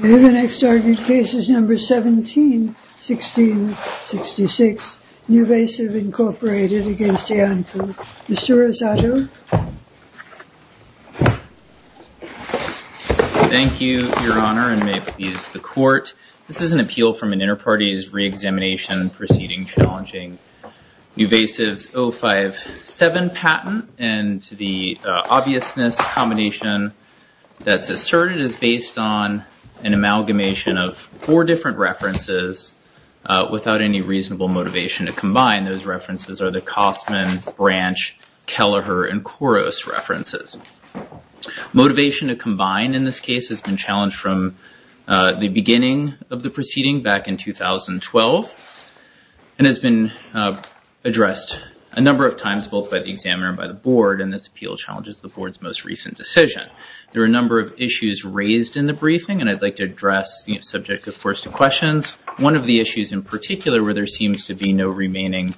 The next argued case is number 17-16-66, NuVasive, Inc. v. Iancu. Mr. Rosado. Thank you, Your Honor, and may it please the Court. This is an appeal from an inter-party's re-examination proceeding challenging NuVasive's 057 patent. And the obviousness combination that's asserted is based on an amalgamation of four different references without any reasonable motivation to combine. Those references are the Kostman, Branch, Kelleher, and Koros references. Motivation to combine in this case has been challenged from the beginning of the proceeding back in 2012 and has been addressed a number of times both by the examiner and by the Board, and this appeal challenges the Board's most recent decision. There are a number of issues raised in the briefing, and I'd like to address subject, of course, to questions. One of the issues in particular where there seems to be no remaining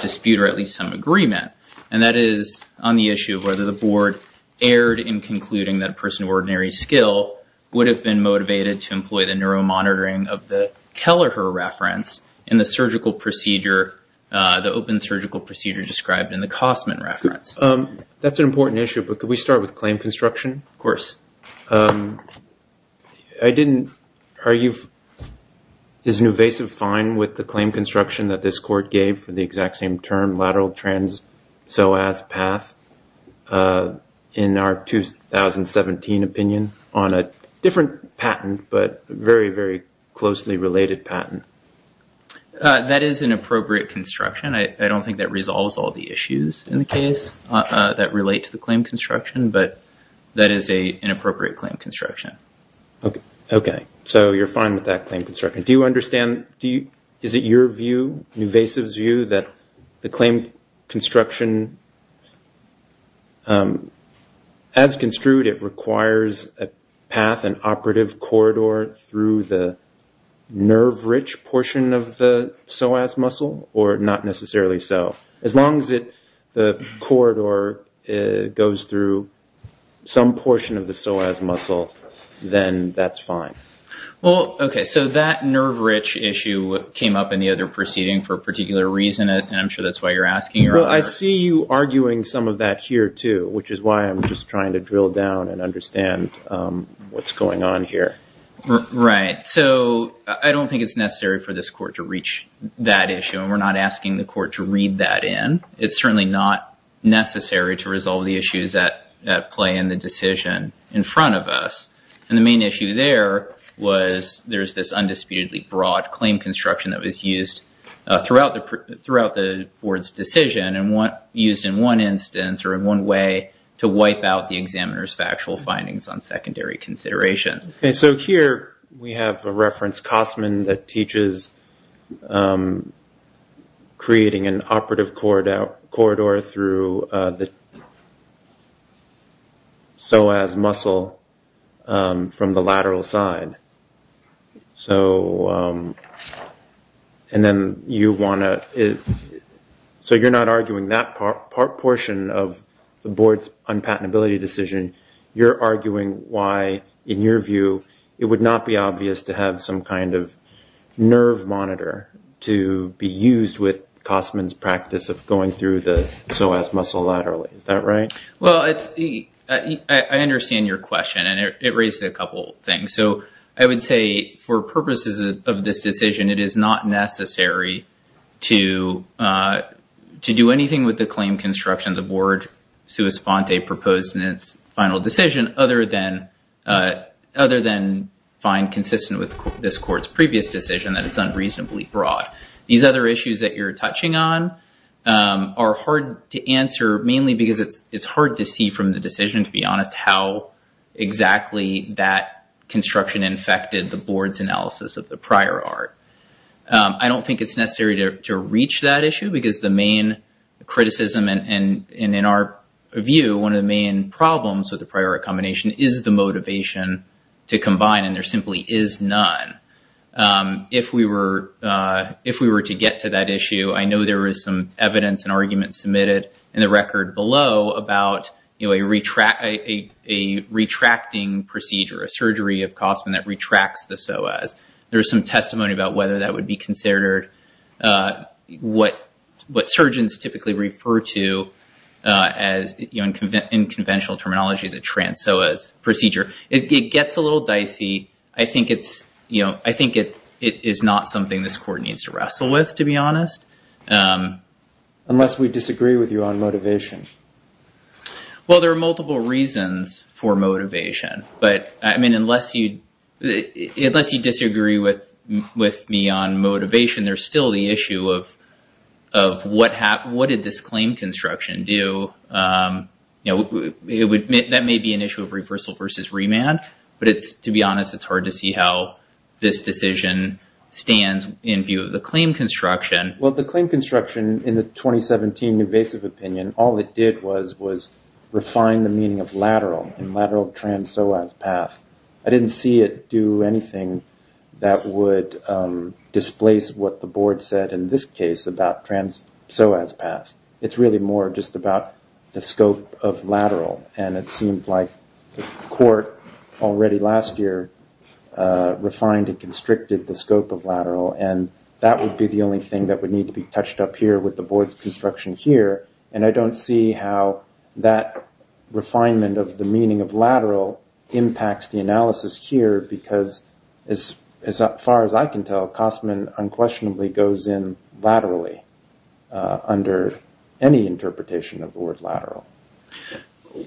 dispute or at least some agreement, and that is on the issue of whether the Board erred in concluding that a person of ordinary skill would have been motivated to employ the neuromonitoring of the Kelleher reference in the surgical procedure, the open surgical procedure described in the Kostman reference. That's an important issue, but could we start with claim construction? Of course. I didn't argue, is NuVasive fine with the claim construction that this Court gave for the exact same term, so as path in our 2017 opinion on a different patent but very, very closely related patent? That is an appropriate construction. I don't think that resolves all the issues in the case that relate to the claim construction, but that is an appropriate claim construction. Okay, so you're fine with that claim construction. Is it your view, NuVasive's view, that the claim construction, as construed, it requires a path, an operative corridor through the nerve-rich portion of the psoas muscle, or not necessarily so? As long as the corridor goes through some portion of the psoas muscle, then that's fine. Well, okay, so that nerve-rich issue came up in the other proceeding for a particular reason, and I'm sure that's why you're asking earlier. Well, I see you arguing some of that here, too, which is why I'm just trying to drill down and understand what's going on here. Right, so I don't think it's necessary for this Court to reach that issue, and we're not asking the Court to read that in. It's certainly not necessary to resolve the issues at play in the decision in front of us. And the main issue there was there's this undisputedly broad claim construction that was used throughout the Board's decision, and used in one instance or in one way to wipe out the examiner's factual findings on secondary considerations. Okay, so here we have a reference, that teaches creating an operative corridor through the psoas muscle from the lateral side. So you're not arguing that portion of the Board's unpatentability decision. You're arguing why, in your view, it would not be obvious to have some kind of nerve monitor to be used with Kossman's practice of going through the psoas muscle laterally. Is that right? Well, I understand your question, and it raises a couple of things. So I would say for purposes of this decision, it is not necessary to do anything with the claim construction that the Board sua sponte proposed in its final decision, other than find consistent with this Court's previous decision that it's unreasonably broad. These other issues that you're touching on are hard to answer, mainly because it's hard to see from the decision, to be honest, how exactly that construction infected the Board's analysis of the prior art. I don't think it's necessary to reach that issue, because the main criticism and, in our view, one of the main problems with the prior art combination is the motivation to combine, and there simply is none. If we were to get to that issue, I know there is some evidence and arguments submitted in the record below about a retracting procedure, a surgery of Kossman that retracts the psoas. There is some testimony about whether that would be considered what surgeons typically refer to in conventional terminology as a trans-psoas procedure. It gets a little dicey. I think it is not something this Court needs to wrestle with, to be honest. Unless we disagree with you on motivation. Well, there are multiple reasons for motivation, but unless you disagree with me on motivation, there's still the issue of what did this claim construction do. That may be an issue of reversal versus remand, but to be honest, it's hard to see how this decision stands in view of the claim construction. Well, the claim construction in the 2017 invasive opinion, all it did was refine the meaning of lateral and lateral trans-psoas path. I didn't see it do anything that would displace what the Board said in this case about trans-psoas path. It's really more just about the scope of lateral, and it seemed like the Court already last year refined and constricted the scope of lateral, and that would be the only thing that would need to be touched up here with the Board's construction here, and I don't see how that refinement of the meaning of lateral impacts the analysis here, because as far as I can tell, Kosman unquestionably goes in laterally under any interpretation of the word lateral.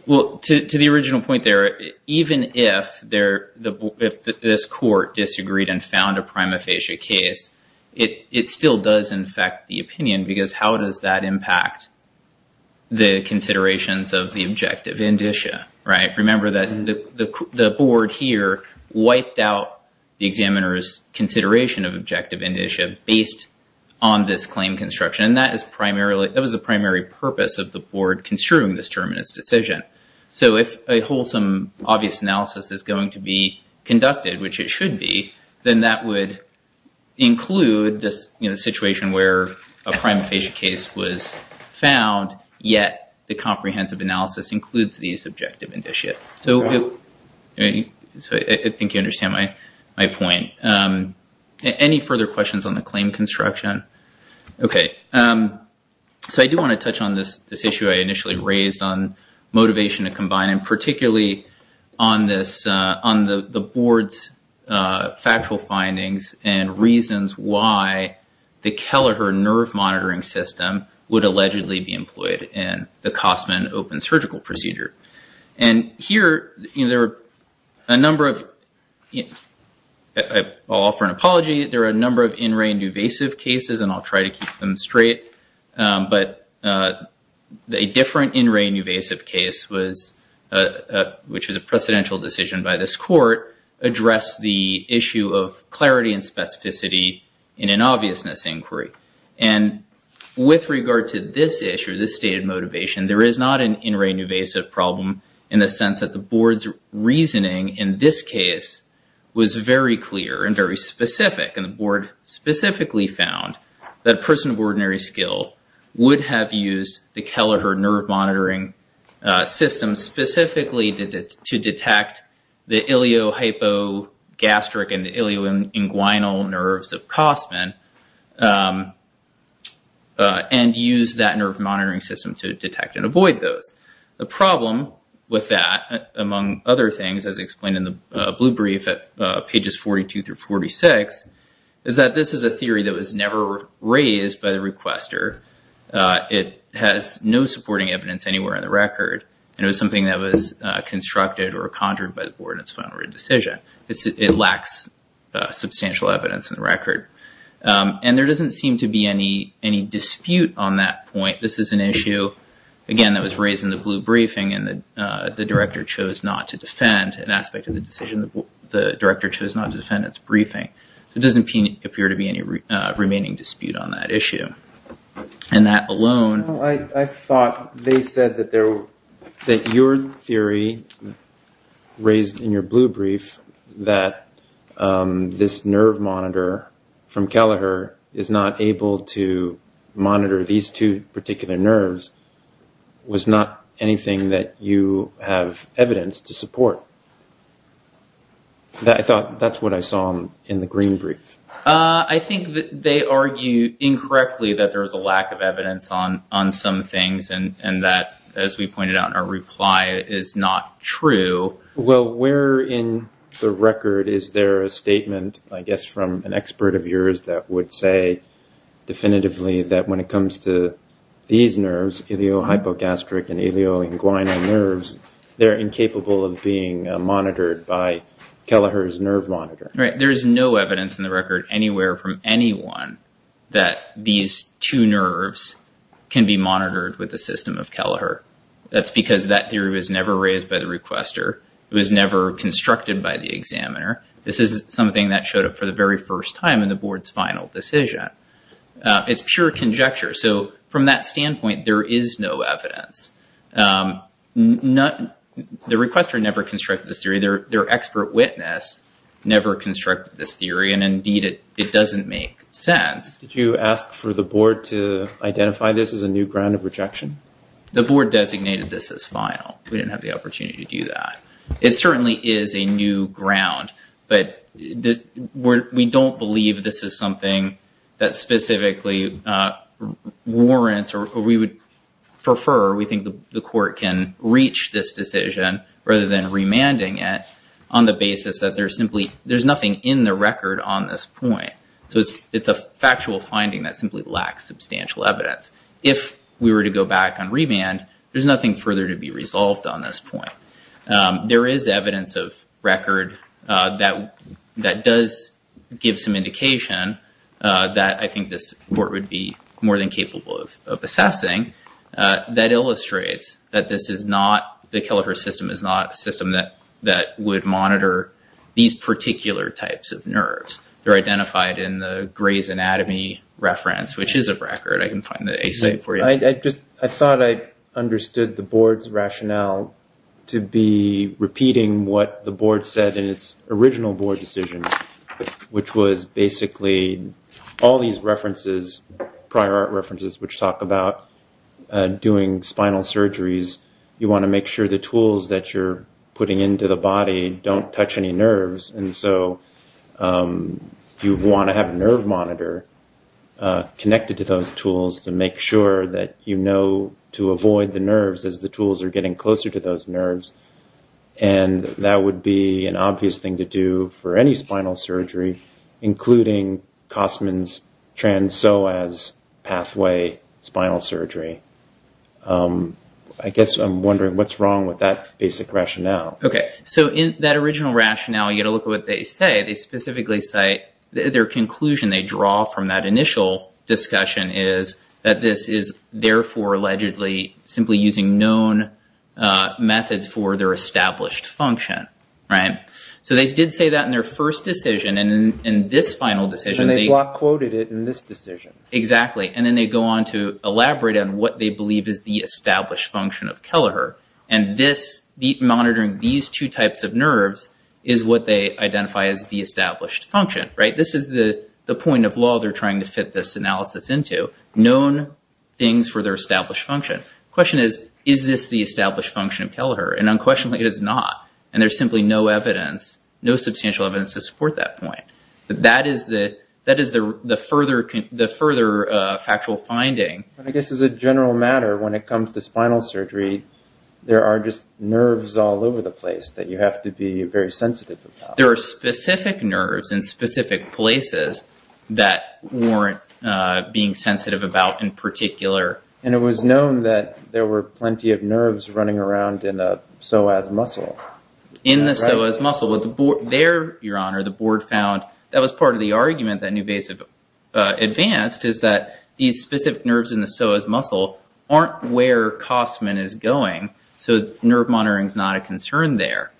Well, to the original point there, even if this Court disagreed and found a prima facie case, it still does infect the opinion, because how does that impact the considerations of the objective indicia? Remember that the Board here wiped out the examiner's consideration of objective indicia based on this claim construction, and that was the primary purpose of the Board construing this terminus decision. So if a wholesome, obvious analysis is going to be conducted, which it should be, then that would include this situation where a prima facie case was found, yet the comprehensive analysis includes the subjective indicia. So I think you understand my point. Any further questions on the claim construction? Okay. So I do want to touch on this issue I initially raised on motivation to combine, and particularly on the Board's factual findings and reasons why the Kelleher nerve monitoring system would allegedly be employed in the Kosman open surgical procedure. And here, there are a number of in-rain, invasive cases, and I'll try to keep them straight, but a different in-rain, invasive case, which was a precedential decision by this court, addressed the issue of clarity and specificity in an obviousness inquiry. And with regard to this issue, this stated motivation, there is not an in-rain, invasive problem in the sense that the Board's reasoning in this case was very clear and very specific, and the Board specifically found that a person of ordinary skill would have used the Kelleher nerve monitoring system specifically to detect the iliohypogastric and ilioinguinal nerves of Kosman and use that nerve monitoring system to detect and avoid those. The problem with that, among other things, as explained in the blue brief at pages 42 through 46, is that this is a theory that was never raised by the requester. It has no supporting evidence anywhere in the record, and it was something that was constructed or conjured by the Board in its final written decision. It lacks substantial evidence in the record. And there doesn't seem to be any dispute on that point. This is an issue, again, that was raised in the blue briefing, and the director chose not to defend an aspect of the decision. The director chose not to defend its briefing. There doesn't appear to be any remaining dispute on that issue. And that alone- I thought they said that your theory, raised in your blue brief, that this nerve monitor from Kelleher is not able to monitor these two particular nerves, was not anything that you have evidence to support. I thought that's what I saw in the green brief. I think that they argue incorrectly that there is a lack of evidence on some things and that, as we pointed out in our reply, is not true. Well, where in the record is there a statement, I guess from an expert of yours, that would say definitively that when it comes to these nerves, iliohypogastric and ilioinguinal nerves, they're incapable of being monitored by Kelleher's nerve monitor? Right. There is no evidence in the record anywhere from anyone that these two nerves can be monitored with the system of Kelleher. That's because that theory was never raised by the requester. It was never constructed by the examiner. This is something that showed up for the very first time in the board's final decision. It's pure conjecture. So from that standpoint, there is no evidence. The requester never constructed this theory. Their expert witness never constructed this theory. And, indeed, it doesn't make sense. Did you ask for the board to identify this as a new ground of rejection? The board designated this as final. We didn't have the opportunity to do that. It certainly is a new ground, but we don't believe this is something that specifically warrants or we would prefer we think the court can reach this decision rather than remanding it on the basis that there's nothing in the record on this point. So it's a factual finding that simply lacks substantial evidence. If we were to go back and remand, there's nothing further to be resolved on this point. There is evidence of record that does give some indication that I think this court would be more than capable of assessing that illustrates that the Kelleher system is not a system that would monitor these particular types of nerves. They're identified in the Gray's Anatomy reference, which is a record. I can find the ASA for you. I thought I understood the board's rationale to be repeating what the board said in its original board decision, which was basically all these references, prior art references, which talk about doing spinal surgeries. You want to make sure the tools that you're putting into the body don't touch any nerves. You want to have a nerve monitor connected to those tools to make sure that you know to avoid the nerves as the tools are getting closer to those nerves. That would be an obvious thing to do for any spinal surgery, including Kosman's trans-PSOAS pathway spinal surgery. I guess I'm wondering what's wrong with that basic rationale. In that original rationale, you've got to look at what they say. Their conclusion they draw from that initial discussion is that this is therefore allegedly simply using known methods for their established function. They did say that in their first decision. In this final decision, they- They block quoted it in this decision. Exactly. Then they go on to elaborate on what they believe is the established function of Kelleher. Monitoring these two types of nerves is what they identify as the established function. This is the point of law they're trying to fit this analysis into. Known things for their established function. The question is, is this the established function of Kelleher? Unquestionably, it is not. There's simply no evidence, no substantial evidence to support that point. That is the further factual finding. I guess as a general matter, when it comes to spinal surgery, there are just nerves all over the place that you have to be very sensitive about. There are specific nerves in specific places that warrant being sensitive about in particular. It was known that there were plenty of nerves running around in the PSOAS muscle. In the PSOAS muscle. There, Your Honor, the board found that was part of the argument that Newvasive advanced is that these specific nerves in the PSOAS muscle aren't where Kossman is going. So nerve monitoring is not a concern there.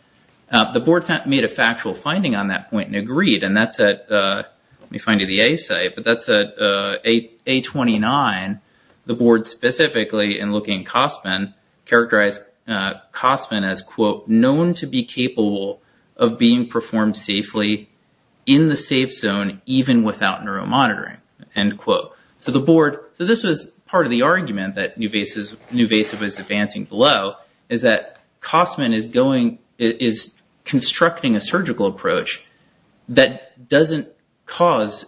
The board made a factual finding on that point and agreed. And that's at, let me find you the A site, but that's at A29. The board specifically, in looking at Kossman, characterized Kossman as, quote, known to be capable of being performed safely in the safe zone, even without neuro monitoring, end quote. So this was part of the argument that Newvasive was advancing below, is that Kossman is constructing a surgical approach that doesn't cause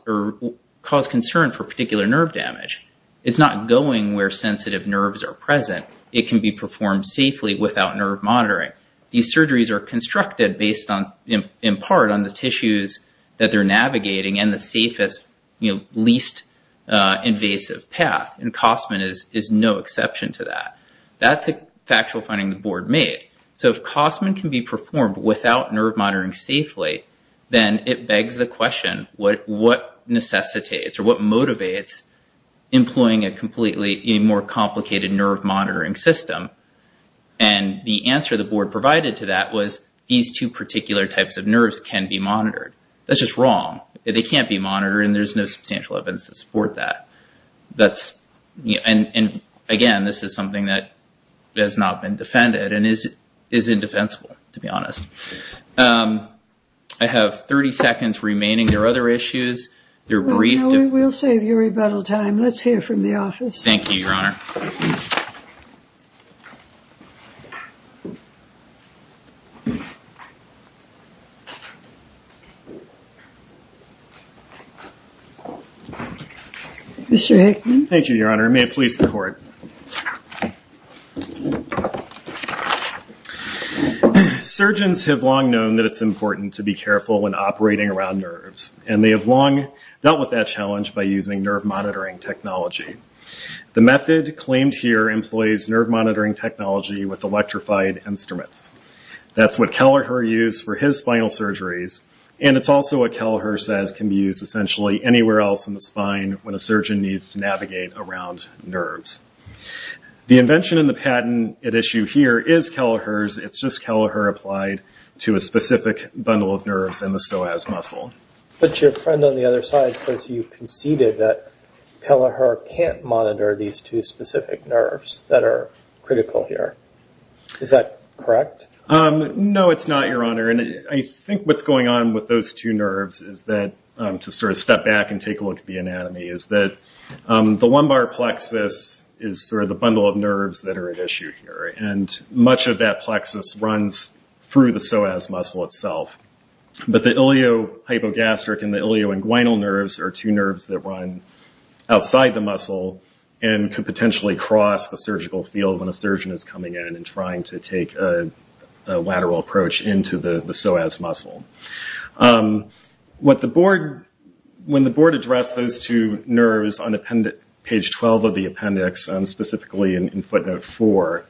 concern for particular nerve damage. It's not going where sensitive nerves are present. It can be performed safely without nerve monitoring. These surgeries are constructed based on, in part, on the tissues that they're navigating and the safest, you know, least invasive path. And Kossman is no exception to that. That's a factual finding the board made. So if Kossman can be performed without nerve monitoring safely, then it begs the question, what necessitates or what motivates employing a completely more complicated nerve monitoring system? And the answer the board provided to that was these two particular types of nerves can be monitored. That's just wrong. They can't be monitored, and there's no substantial evidence to support that. That's, and again, this is something that has not been defended and is indefensible, to be honest. I have 30 seconds remaining. There are other issues. They're brief. We'll save your rebuttal time. Let's hear from the office. Thank you, Your Honor. Mr. Hickman. Thank you, Your Honor. May it please the court. Surgeons have long known that it's important to be careful when operating around nerves, and they have long dealt with that challenge by using nerve monitoring technology. The method claimed here employs nerve monitoring technology with electrified instruments. That's what Kelleher used for his spinal surgeries, and it's also what Kelleher says can be used essentially anywhere else in the spine when a surgeon needs to navigate around nerves. The invention in the patent at issue here is Kelleher's. It's just Kelleher applied to a specific bundle of nerves in the psoas muscle. But your friend on the other side says you conceded that Kelleher can't monitor these two specific nerves that are critical here. Is that correct? No, it's not, Your Honor. I think what's going on with those two nerves is that, to step back and take a look at the anatomy, is that the lumbar plexus is the bundle of nerves that are at issue here. Much of that plexus runs through the psoas muscle itself. But the iliohypogastric and the ilioinguinal nerves are two nerves that run outside the muscle and could potentially cross the surgical field when a surgeon is coming in and trying to take a lateral approach into the psoas muscle. When the board addressed those two nerves on page 12 of the appendix, specifically in footnote 4,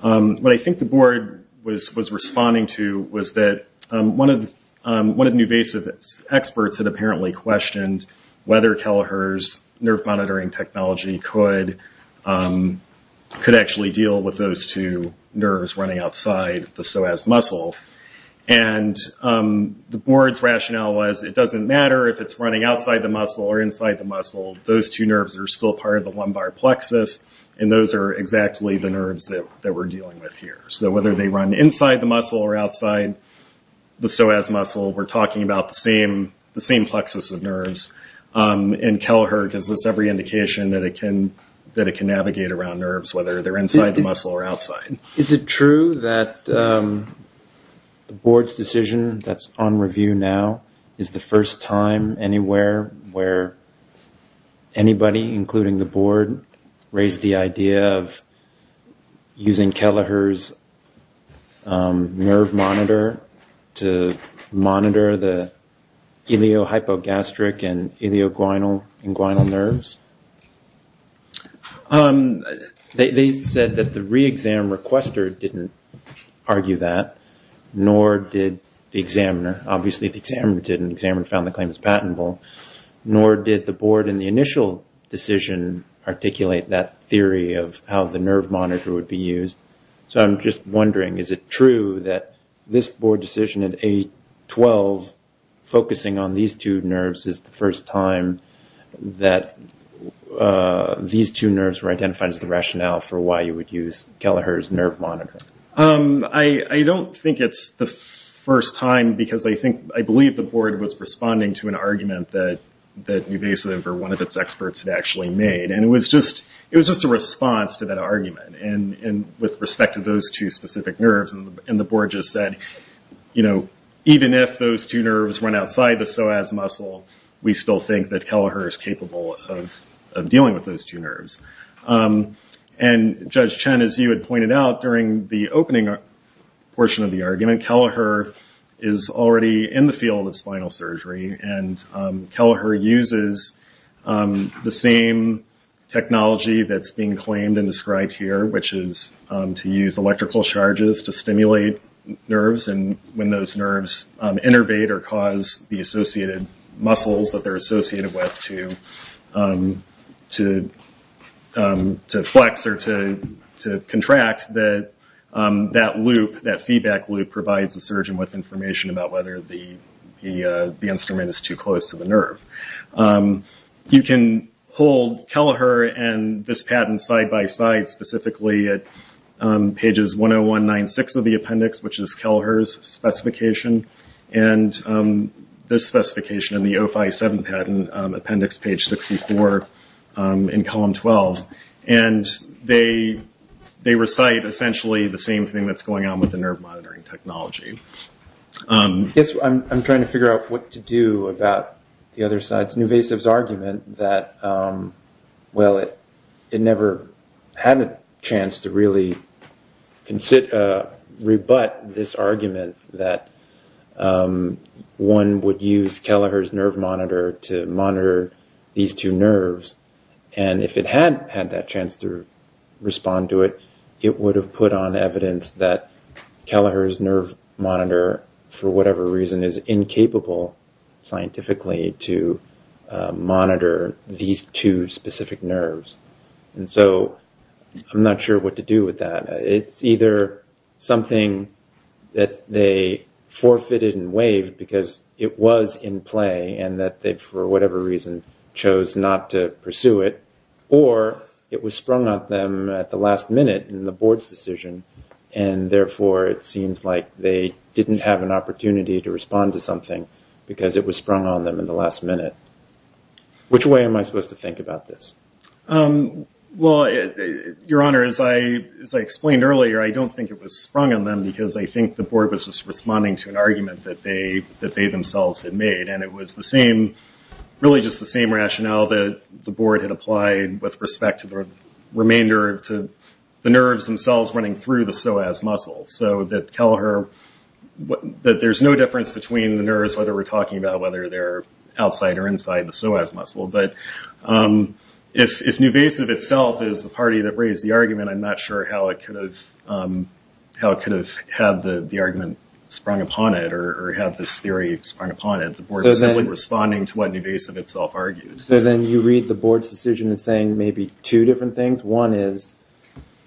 what I think the board was responding to was that one of the newvasive experts had apparently questioned whether Kelleher's nerve monitoring technology could actually deal with those two nerves running outside the psoas muscle. The board's rationale was it doesn't matter if it's running outside the muscle or inside the muscle. Those two nerves are still part of the lumbar plexus, and those are exactly the nerves that we're dealing with here. Whether they run inside the muscle or outside the psoas muscle, we're talking about the same plexus of nerves. Kelleher gives us every indication that it can navigate around nerves, whether they're inside the muscle or outside. Is it true that the board's decision that's on review now is the first time anywhere where anybody, including the board, raised the idea of using Kelleher's nerve monitor to monitor the iliohypogastric and ilioinguinal nerves? They said that the re-exam requester didn't argue that, nor did the examiner. Obviously, the examiner didn't. The examiner found the claim as patentable. Nor did the board in the initial decision articulate that theory of how the nerve monitor would be used. I'm just wondering, is it true that this board decision at 8-12, focusing on these two nerves, is the first time that these two nerves were identified as the rationale for why you would use Kelleher's nerve monitor? I don't think it's the first time, because I believe the board was responding to an argument that one of its experts had actually made. It was just a response to that argument. With respect to those two specific nerves, the board just said, even if those two nerves run outside the psoas muscle, we still think that Kelleher is capable of dealing with those two nerves. Judge Chen, as you had pointed out during the opening portion of the argument, Kelleher is already in the field of spinal surgery. Kelleher uses the same technology that's being claimed and described here, which is to use electrical charges to stimulate nerves. When those nerves innervate or cause the associated muscles that they're associated with to flex or to contract, that feedback loop provides the surgeon with information about whether the instrument is too close to the nerve. You can pull Kelleher and this patent side-by-side, specifically at pages 101-96 of the appendix, which is Kelleher's specification, and this specification in the 057 patent, appendix page 64 in column 12. They recite essentially the same thing that's going on with the nerve monitoring technology. I guess I'm trying to figure out what to do about the other side's argument that, well, it never had a chance to really rebut this argument that one would use Kelleher's nerve monitor to monitor these two nerves. If it had had that chance to respond to it, it would have put on evidence that Kelleher's nerve monitor, for whatever reason, is incapable scientifically to monitor these two specific nerves. I'm not sure what to do with that. It's either something that they forfeited and waived because it was in play and that they, for whatever reason, chose not to pursue it, or it was sprung on them at the last minute in the board's decision. Therefore, it seems like they didn't have an opportunity to respond to something because it was sprung on them in the last minute. Which way am I supposed to think about this? Your Honor, as I explained earlier, I don't think it was sprung on them because I think the board was just responding to an argument that they themselves had made. It was really just the same rationale that the board had applied with respect to the remainder of the nerves themselves running through the psoas muscle. So that Kelleher, that there's no difference between the nerves, whether we're talking about whether they're outside or inside the psoas muscle. But if Nuvasiv itself is the party that raised the argument, I'm not sure how it could have had the argument sprung upon it or had this theory sprung upon it. The board was simply responding to what Nuvasiv itself argued. So then you read the board's decision as saying maybe two different things? One is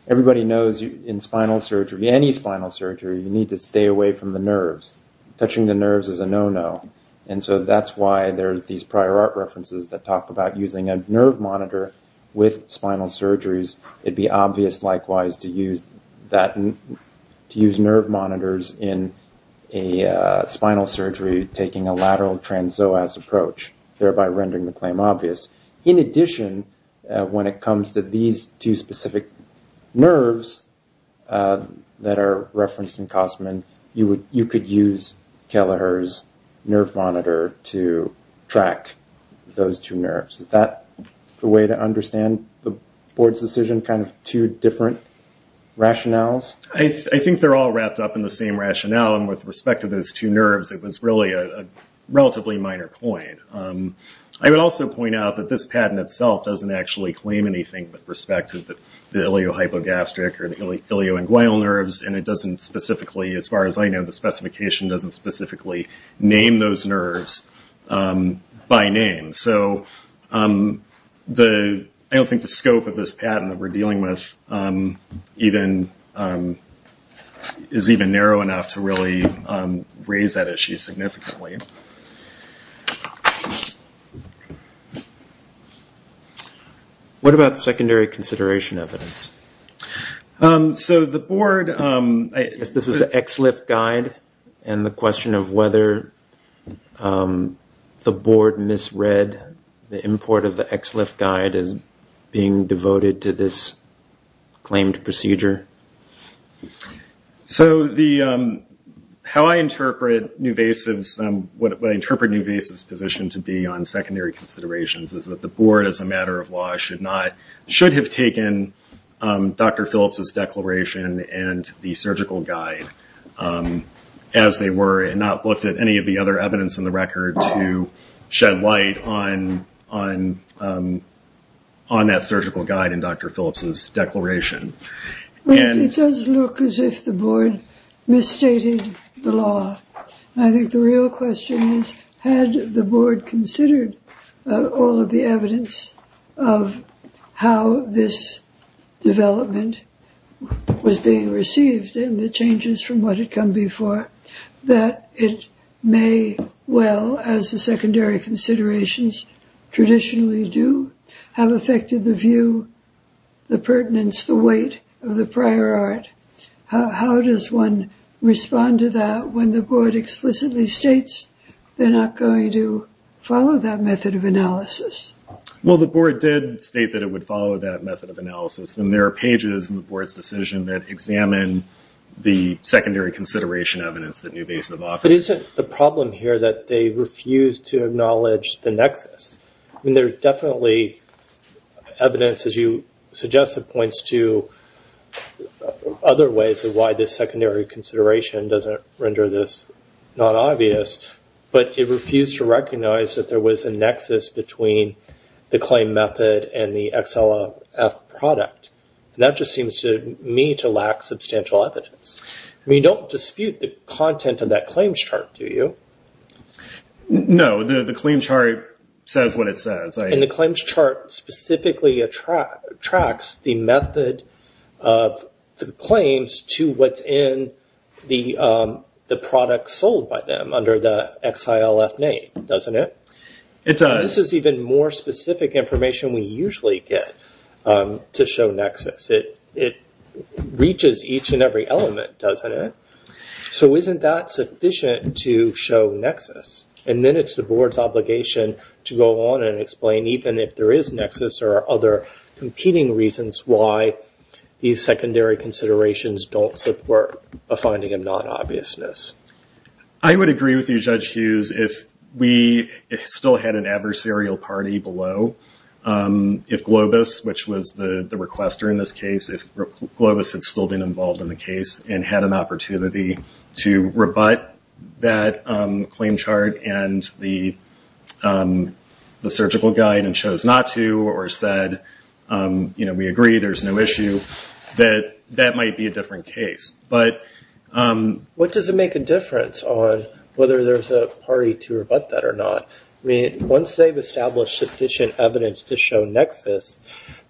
everybody knows in spinal surgery, any spinal surgery, you need to stay away from the nerves. Touching the nerves is a no-no. And so that's why there's these prior art references that talk about using a nerve monitor with spinal surgeries. It'd be obvious, likewise, to use nerve monitors in a spinal surgery taking a lateral trans-psoas approach, thereby rendering the claim obvious. In addition, when it comes to these two specific nerves that are referenced in Kossman, you could use Kelleher's nerve monitor to track those two nerves. Is that the way to understand the board's decision, kind of two different rationales? I think they're all wrapped up in the same rationale, and with respect to those two nerves, it was really a relatively minor point. I would also point out that this patent itself doesn't actually claim anything with respect to the iliohypogastric or the ilioinguinal nerves, and it doesn't specifically, as far as I know, the specification doesn't specifically name those nerves by name. So I don't think the scope of this patent that we're dealing with is even narrow enough to really raise that issue significantly. What about secondary consideration evidence? This is the XLIF guide, and the question of whether the board misread the import of the XLIF guide as being devoted to this claimed procedure. How I interpret Newvasive's position to be on secondary considerations is that the board, as a matter of law, should have taken Dr. Phillips's declaration and the surgical guide as they were, and not looked at any of the other evidence in the record to shed light on that surgical guide and Dr. Phillips's declaration. It does look as if the board misstated the law. I think the real question is, had the board considered all of the evidence of how this development was being received and the changes from what had come before, that it may well, as the secondary considerations traditionally do, have affected the view, the pertinence, the weight of the prior art. How does one respond to that when the board explicitly states they're not going to follow that method of analysis? Well, the board did state that it would follow that method of analysis, and there are pages in the board's decision that examine the secondary consideration evidence that Newvasive offers. But isn't the problem here that they refuse to acknowledge the nexus? I mean, there's definitely evidence, as you suggested, points to other ways of why this secondary consideration doesn't render this not obvious, but it refused to recognize that there was a nexus between the claim method and the XLF product. And that just seems to me to lack substantial evidence. I mean, you don't dispute the content of that claims chart, do you? No, the claims chart says what it says. And the claims chart specifically tracks the method of the claims to what's in the product sold by them under the XILF name, doesn't it? It does. This is even more specific information we usually get to show nexus. It reaches each and every element, doesn't it? So isn't that sufficient to show nexus? And then it's the board's obligation to go on and explain, even if there is nexus or other competing reasons, why these secondary considerations don't support a finding of non-obviousness. I would agree with you, Judge Hughes. If we still had an adversarial party below, if Globus, which was the requester in this case, if Globus had still been involved in the case and had an opportunity to rebut that claim chart and the surgical guide and chose not to or said, you know, we agree there's no issue, that that might be a different case. But what does it make a difference on whether there's a party to rebut that or not? I mean, once they've established sufficient evidence to show nexus,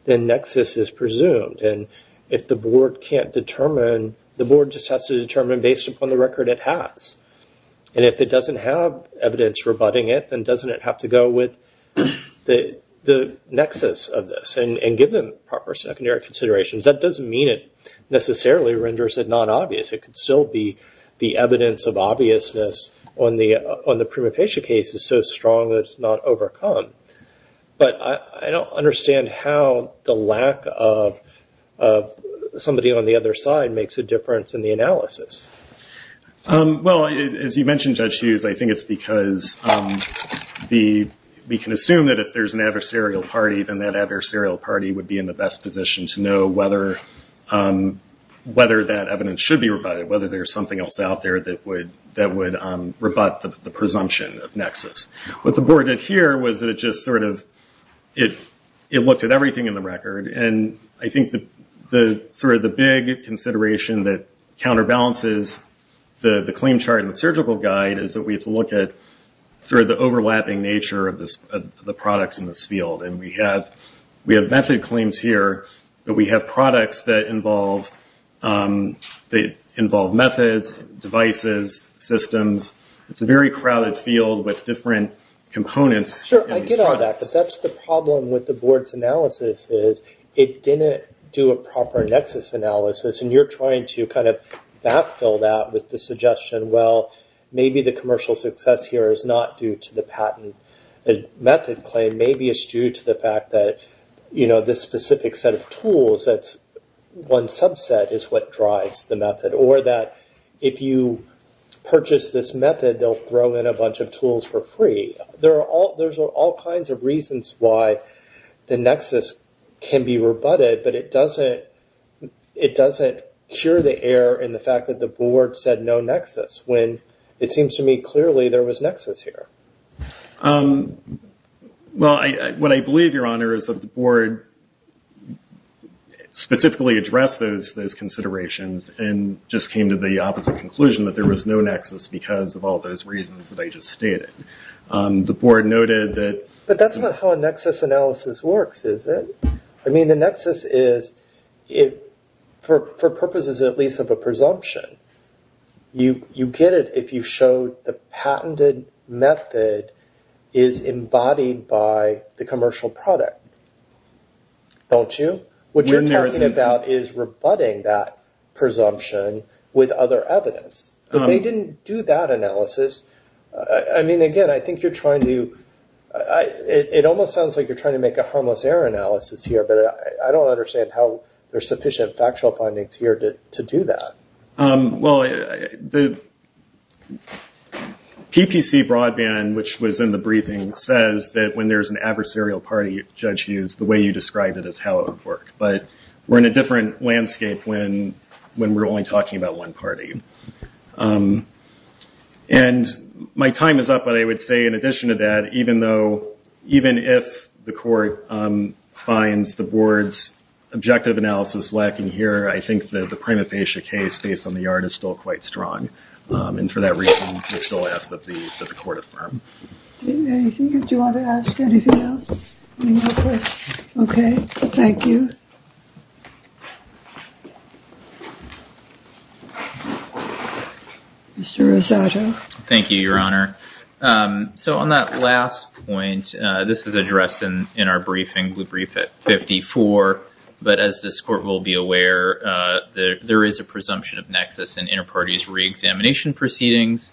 then nexus is presumed. And if the board can't determine, the board just has to determine based upon the record it has. And if it doesn't have evidence rebutting it, then doesn't it have to go with the nexus of this and give them proper secondary considerations? That doesn't mean it necessarily renders it non-obvious. It could still be the evidence of obviousness on the prima facie case is so strong that it's not overcome. But I don't understand how the lack of somebody on the other side makes a difference in the analysis. Well, as you mentioned, Judge Hughes, I think it's because we can assume that if there's an adversarial party, then that adversarial party would be in the best position to know whether that evidence should be rebutted, whether there's something else out there that would rebut the presumption of nexus. What the board did here was that it just sort of looked at everything in the record. And I think sort of the big consideration that counterbalances the claim chart in the surgical guide is that we have to look at sort of the overlapping nature of the products in this field. And we have method claims here, but we have products that involve methods, devices, systems. It's a very crowded field with different components. Sure, I get all that. But that's the problem with the board's analysis is it didn't do a proper nexus analysis. And you're trying to kind of backfill that with the suggestion, well, maybe the commercial success here is not due to the patent. The method claim maybe is due to the fact that, you know, this specific set of tools, that one subset is what drives the method, or that if you purchase this method, they'll throw in a bunch of tools for free. There are all kinds of reasons why the nexus can be rebutted, but it doesn't cure the error in the fact that the board said no nexus when it seems to me clearly there was nexus here. Well, what I believe, Your Honor, is that the board specifically addressed those considerations and just came to the opposite conclusion that there was no nexus because of all those reasons that I just stated. The board noted that... But that's not how a nexus analysis works, is it? I mean, the nexus is, for purposes at least of a presumption, you get it if you show the patented method is embodied by the commercial product, don't you? What you're talking about is rebutting that presumption with other evidence. But they didn't do that analysis. I mean, again, I think you're trying to... It almost sounds like you're trying to make a harmless error analysis here, but I don't understand how there's sufficient factual findings here to do that. Well, the PPC broadband, which was in the briefing, says that when there's an adversarial party, Judge Hughes, the way you described it is how it would work. But we're in a different landscape when we're only talking about one party. And my time is up, but I would say in addition to that, even if the court finds the board's objective analysis lacking here, I think that the prima facie case based on the yard is still quite strong. And for that reason, we still ask that the court affirm. Do you want to ask anything else? Okay, thank you. Mr. Rosado. Thank you, Your Honor. So on that last point, this is addressed in our briefing. But as this court will be aware, there is a presumption of nexus in inter-parties re-examination proceedings.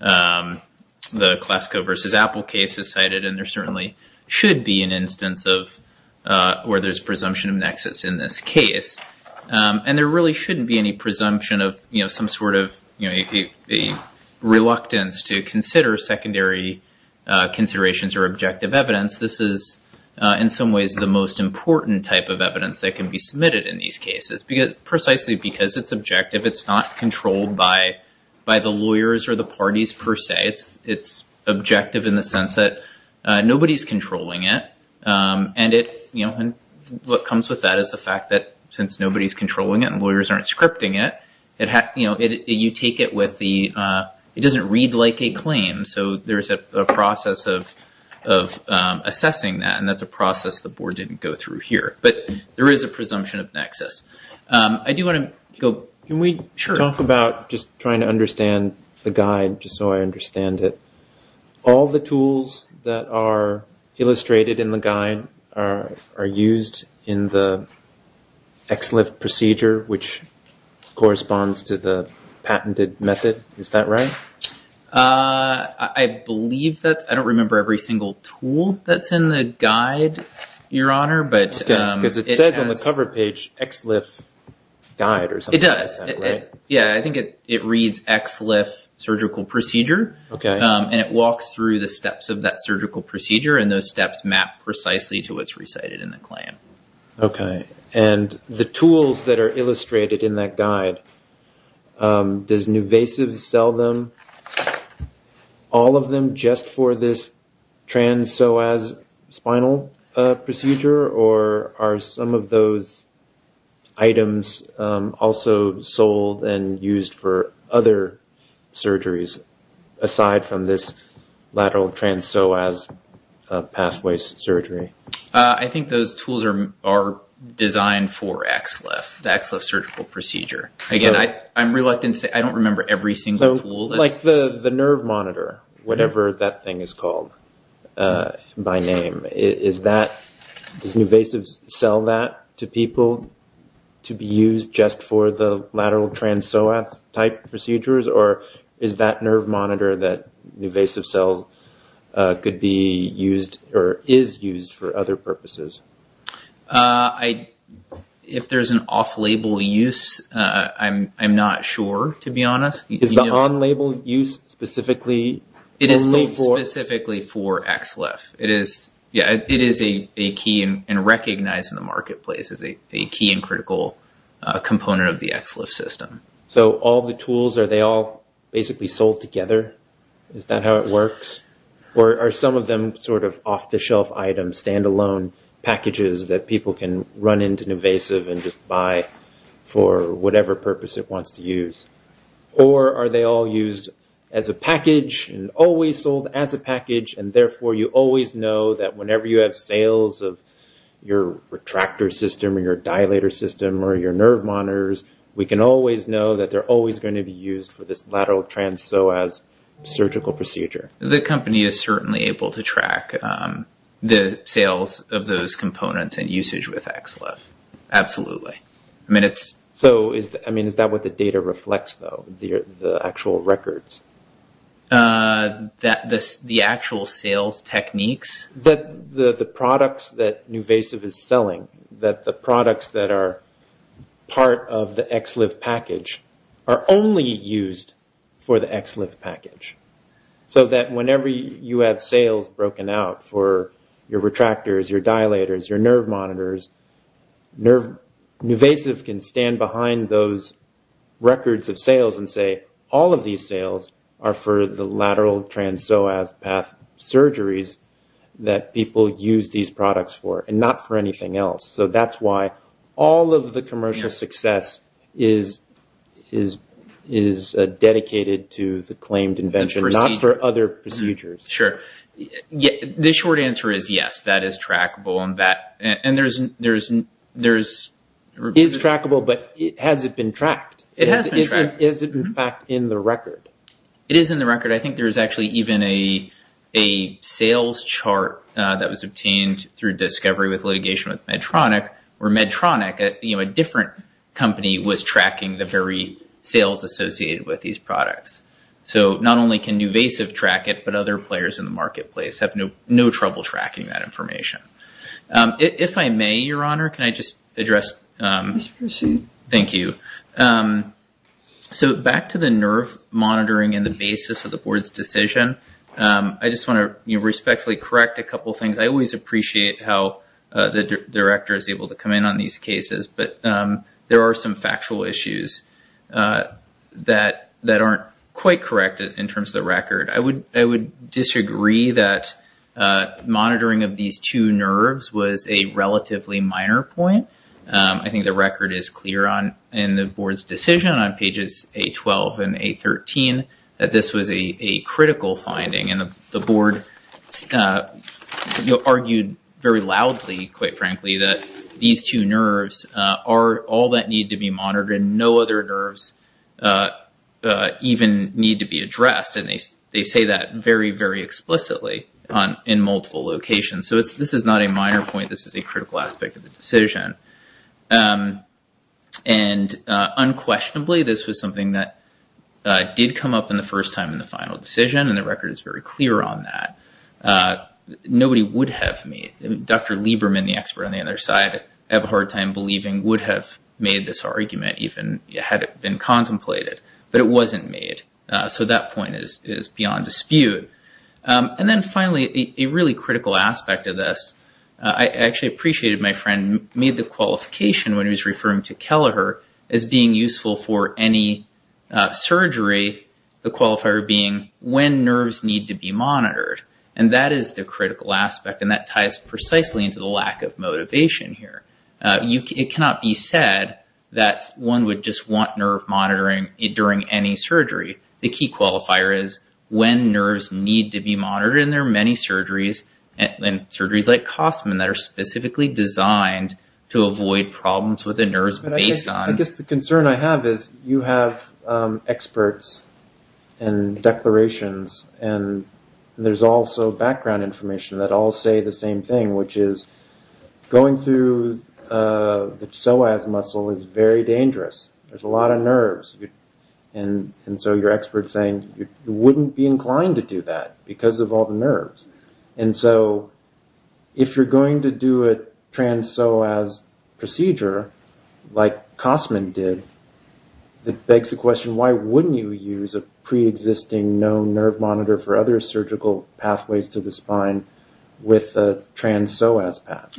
The Glasgow versus Apple case is cited, and there certainly should be an instance where there's presumption of nexus in this case. And there really shouldn't be any presumption of some sort of reluctance to consider secondary considerations or objective evidence. This is in some ways the most important type of evidence that can be submitted in these cases, precisely because it's objective. It's not controlled by the lawyers or the parties per se. It's objective in the sense that nobody's controlling it. And what comes with that is the fact that since nobody's controlling it and lawyers aren't scripting it, you take it with the, it doesn't read like a claim. So there is a process of assessing that, and that's a process the board didn't go through here. But there is a presumption of nexus. I do want to go... Can we talk about just trying to understand the guide, just so I understand it? All the tools that are illustrated in the guide are used in the XLIF procedure, which corresponds to the patented method. Is that right? I believe that's... I don't remember every single tool that's in the guide, Your Honor. Because it says on the cover page XLIF guide or something like that, right? It does. Yeah, I think it reads XLIF surgical procedure. And it walks through the steps of that surgical procedure, and those steps map precisely to what's recited in the claim. Okay. And the tools that are illustrated in that guide, does Nuvasiv sell them, all of them just for this trans-psoas spinal procedure? Or are some of those items also sold and used for other surgeries aside from this lateral trans-psoas pathway surgery? I think those tools are designed for XLIF, the XLIF surgical procedure. Again, I'm reluctant to say. I don't remember every single tool. Like the nerve monitor, whatever that thing is called by name, does Nuvasiv sell that to people to be used just for the lateral trans-psoas type procedures? Or is that nerve monitor that Nuvasiv sells could be used or is used for other purposes? If there's an off-label use, I'm not sure, to be honest. Is the on-label use specifically only for… It is specifically for XLIF. It is a key and recognized in the marketplace as a key and critical component of the XLIF system. So all the tools, are they all basically sold together? Is that how it works? Or are some of them sort of off-the-shelf items, stand-alone packages that people can run into Nuvasiv and just buy for whatever purpose it wants to use? Or are they all used as a package and always sold as a package, and therefore you always know that whenever you have sales of your retractor system or your dilator system or your nerve monitors, we can always know that they're always going to be used for this lateral trans-psoas surgical procedure? The company is certainly able to track the sales of those components and usage with XLIF. Absolutely. I mean, is that what the data reflects, though, the actual records? The actual sales techniques? The products that Nuvasiv is selling, that the products that are part of the XLIF package, are only used for the XLIF package, so that whenever you have sales broken out for your retractors, your dilators, your nerve monitors, Nuvasiv can stand behind those records of sales and say, all of these sales are for the lateral trans-psoas path surgeries that people use these products for, and not for anything else. So that's why all of the commercial success is dedicated to the claimed invention, not for other procedures. Sure. The short answer is yes, that is trackable. It is trackable, but has it been tracked? It has been tracked. But is it, in fact, in the record? It is in the record. I think there is actually even a sales chart that was obtained through discovery with litigation with Medtronic, where Medtronic, a different company, was tracking the very sales associated with these products. So not only can Nuvasiv track it, but other players in the marketplace have no trouble tracking that information. If I may, Your Honor, can I just address... Please proceed. Thank you. So back to the nerve monitoring and the basis of the board's decision, I just want to respectfully correct a couple things. I always appreciate how the director is able to come in on these cases, but there are some factual issues that aren't quite correct in terms of the record. I would disagree that monitoring of these two nerves was a relatively minor point. I think the record is clear in the board's decision on pages A12 and A13 that this was a critical finding, and the board argued very loudly, quite frankly, that these two nerves are all that need to be monitored and no other nerves even need to be addressed. And they say that very, very explicitly in multiple locations. So this is not a minor point. This is a critical aspect of the decision. And unquestionably, this was something that did come up in the first time in the final decision, and the record is very clear on that. Nobody would have made... Dr. Lieberman, the expert on the other side, I have a hard time believing, would have made this argument even had it been contemplated, but it wasn't made. So that point is beyond dispute. And then finally, a really critical aspect of this, I actually appreciated my friend made the qualification when he was referring to Kelleher as being useful for any surgery, the qualifier being when nerves need to be monitored. And that is the critical aspect, and that ties precisely into the lack of motivation here. It cannot be said that one would just want nerve monitoring during any surgery. The key qualifier is when nerves need to be monitored, and there are many surgeries, and surgeries like Kossman, that are specifically designed to avoid problems with the nerves based on... I guess the concern I have is you have experts and declarations, and there's also background information that all say the same thing, which is going through the psoas muscle is very dangerous. There's a lot of nerves. And so your expert is saying you wouldn't be inclined to do that because of all the nerves. And so if you're going to do a trans-psoas procedure like Kossman did, it begs the question, why wouldn't you use a pre-existing known nerve monitor for other surgical pathways to the spine with a trans-psoas path?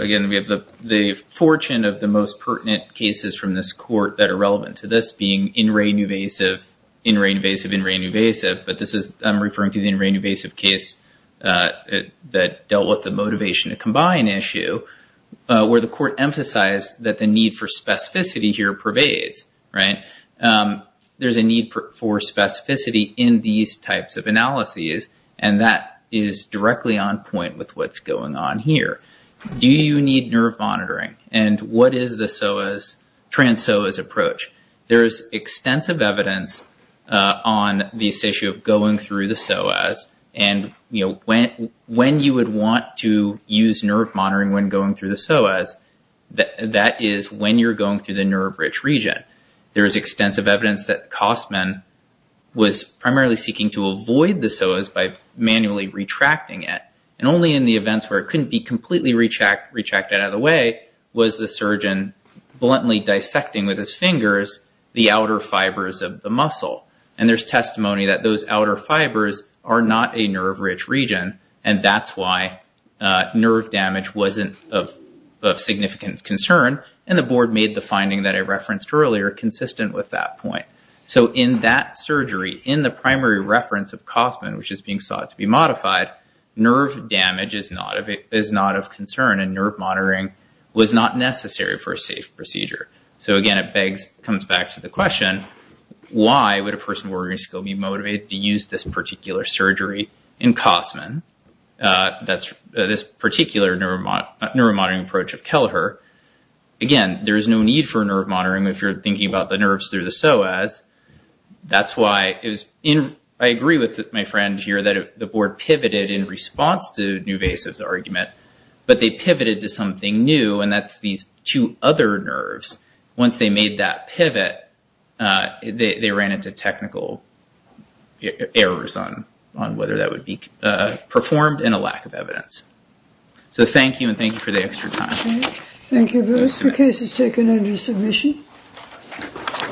Again, we have the fortune of the most pertinent cases from this court that are relevant to this being in re-invasive, in re-invasive, in re-invasive. But I'm referring to the in re-invasive case that dealt with the motivation to combine issue, where the court emphasized that the need for specificity here pervades. There's a need for specificity in these types of analyses, and that is directly on point with what's going on here. Do you need nerve monitoring? And what is the psoas, trans-psoas approach? There is extensive evidence on this issue of going through the psoas, and when you would want to use nerve monitoring when going through the psoas, that is when you're going through the nerve-rich region. There is extensive evidence that Kossman was primarily seeking to avoid the psoas by manually retracting it. And only in the events where it couldn't be completely retracted out of the way was the surgeon bluntly dissecting with his fingers the outer fibers of the muscle. And there's testimony that those outer fibers are not a nerve-rich region, and that's why nerve damage wasn't of significant concern, and the board made the finding that I referenced earlier consistent with that point. So in that surgery, in the primary reference of Kossman, which is being sought to be modified, nerve damage is not of concern, and nerve monitoring was not necessary for a safe procedure. So, again, it comes back to the question, why would a person with a working skill be motivated to use this particular surgery in Kossman, this particular nerve-monitoring approach of Kelleher? Again, there is no need for nerve monitoring if you're thinking about the nerves through the psoas. That's why I agree with my friend here that the board pivoted in response to Nuvasiv's argument, but they pivoted to something new, and that's these two other nerves. Once they made that pivot, they ran into technical errors on whether that would be performed and a lack of evidence. So thank you, and thank you for the extra time. Thank you both. The case is taken under submission.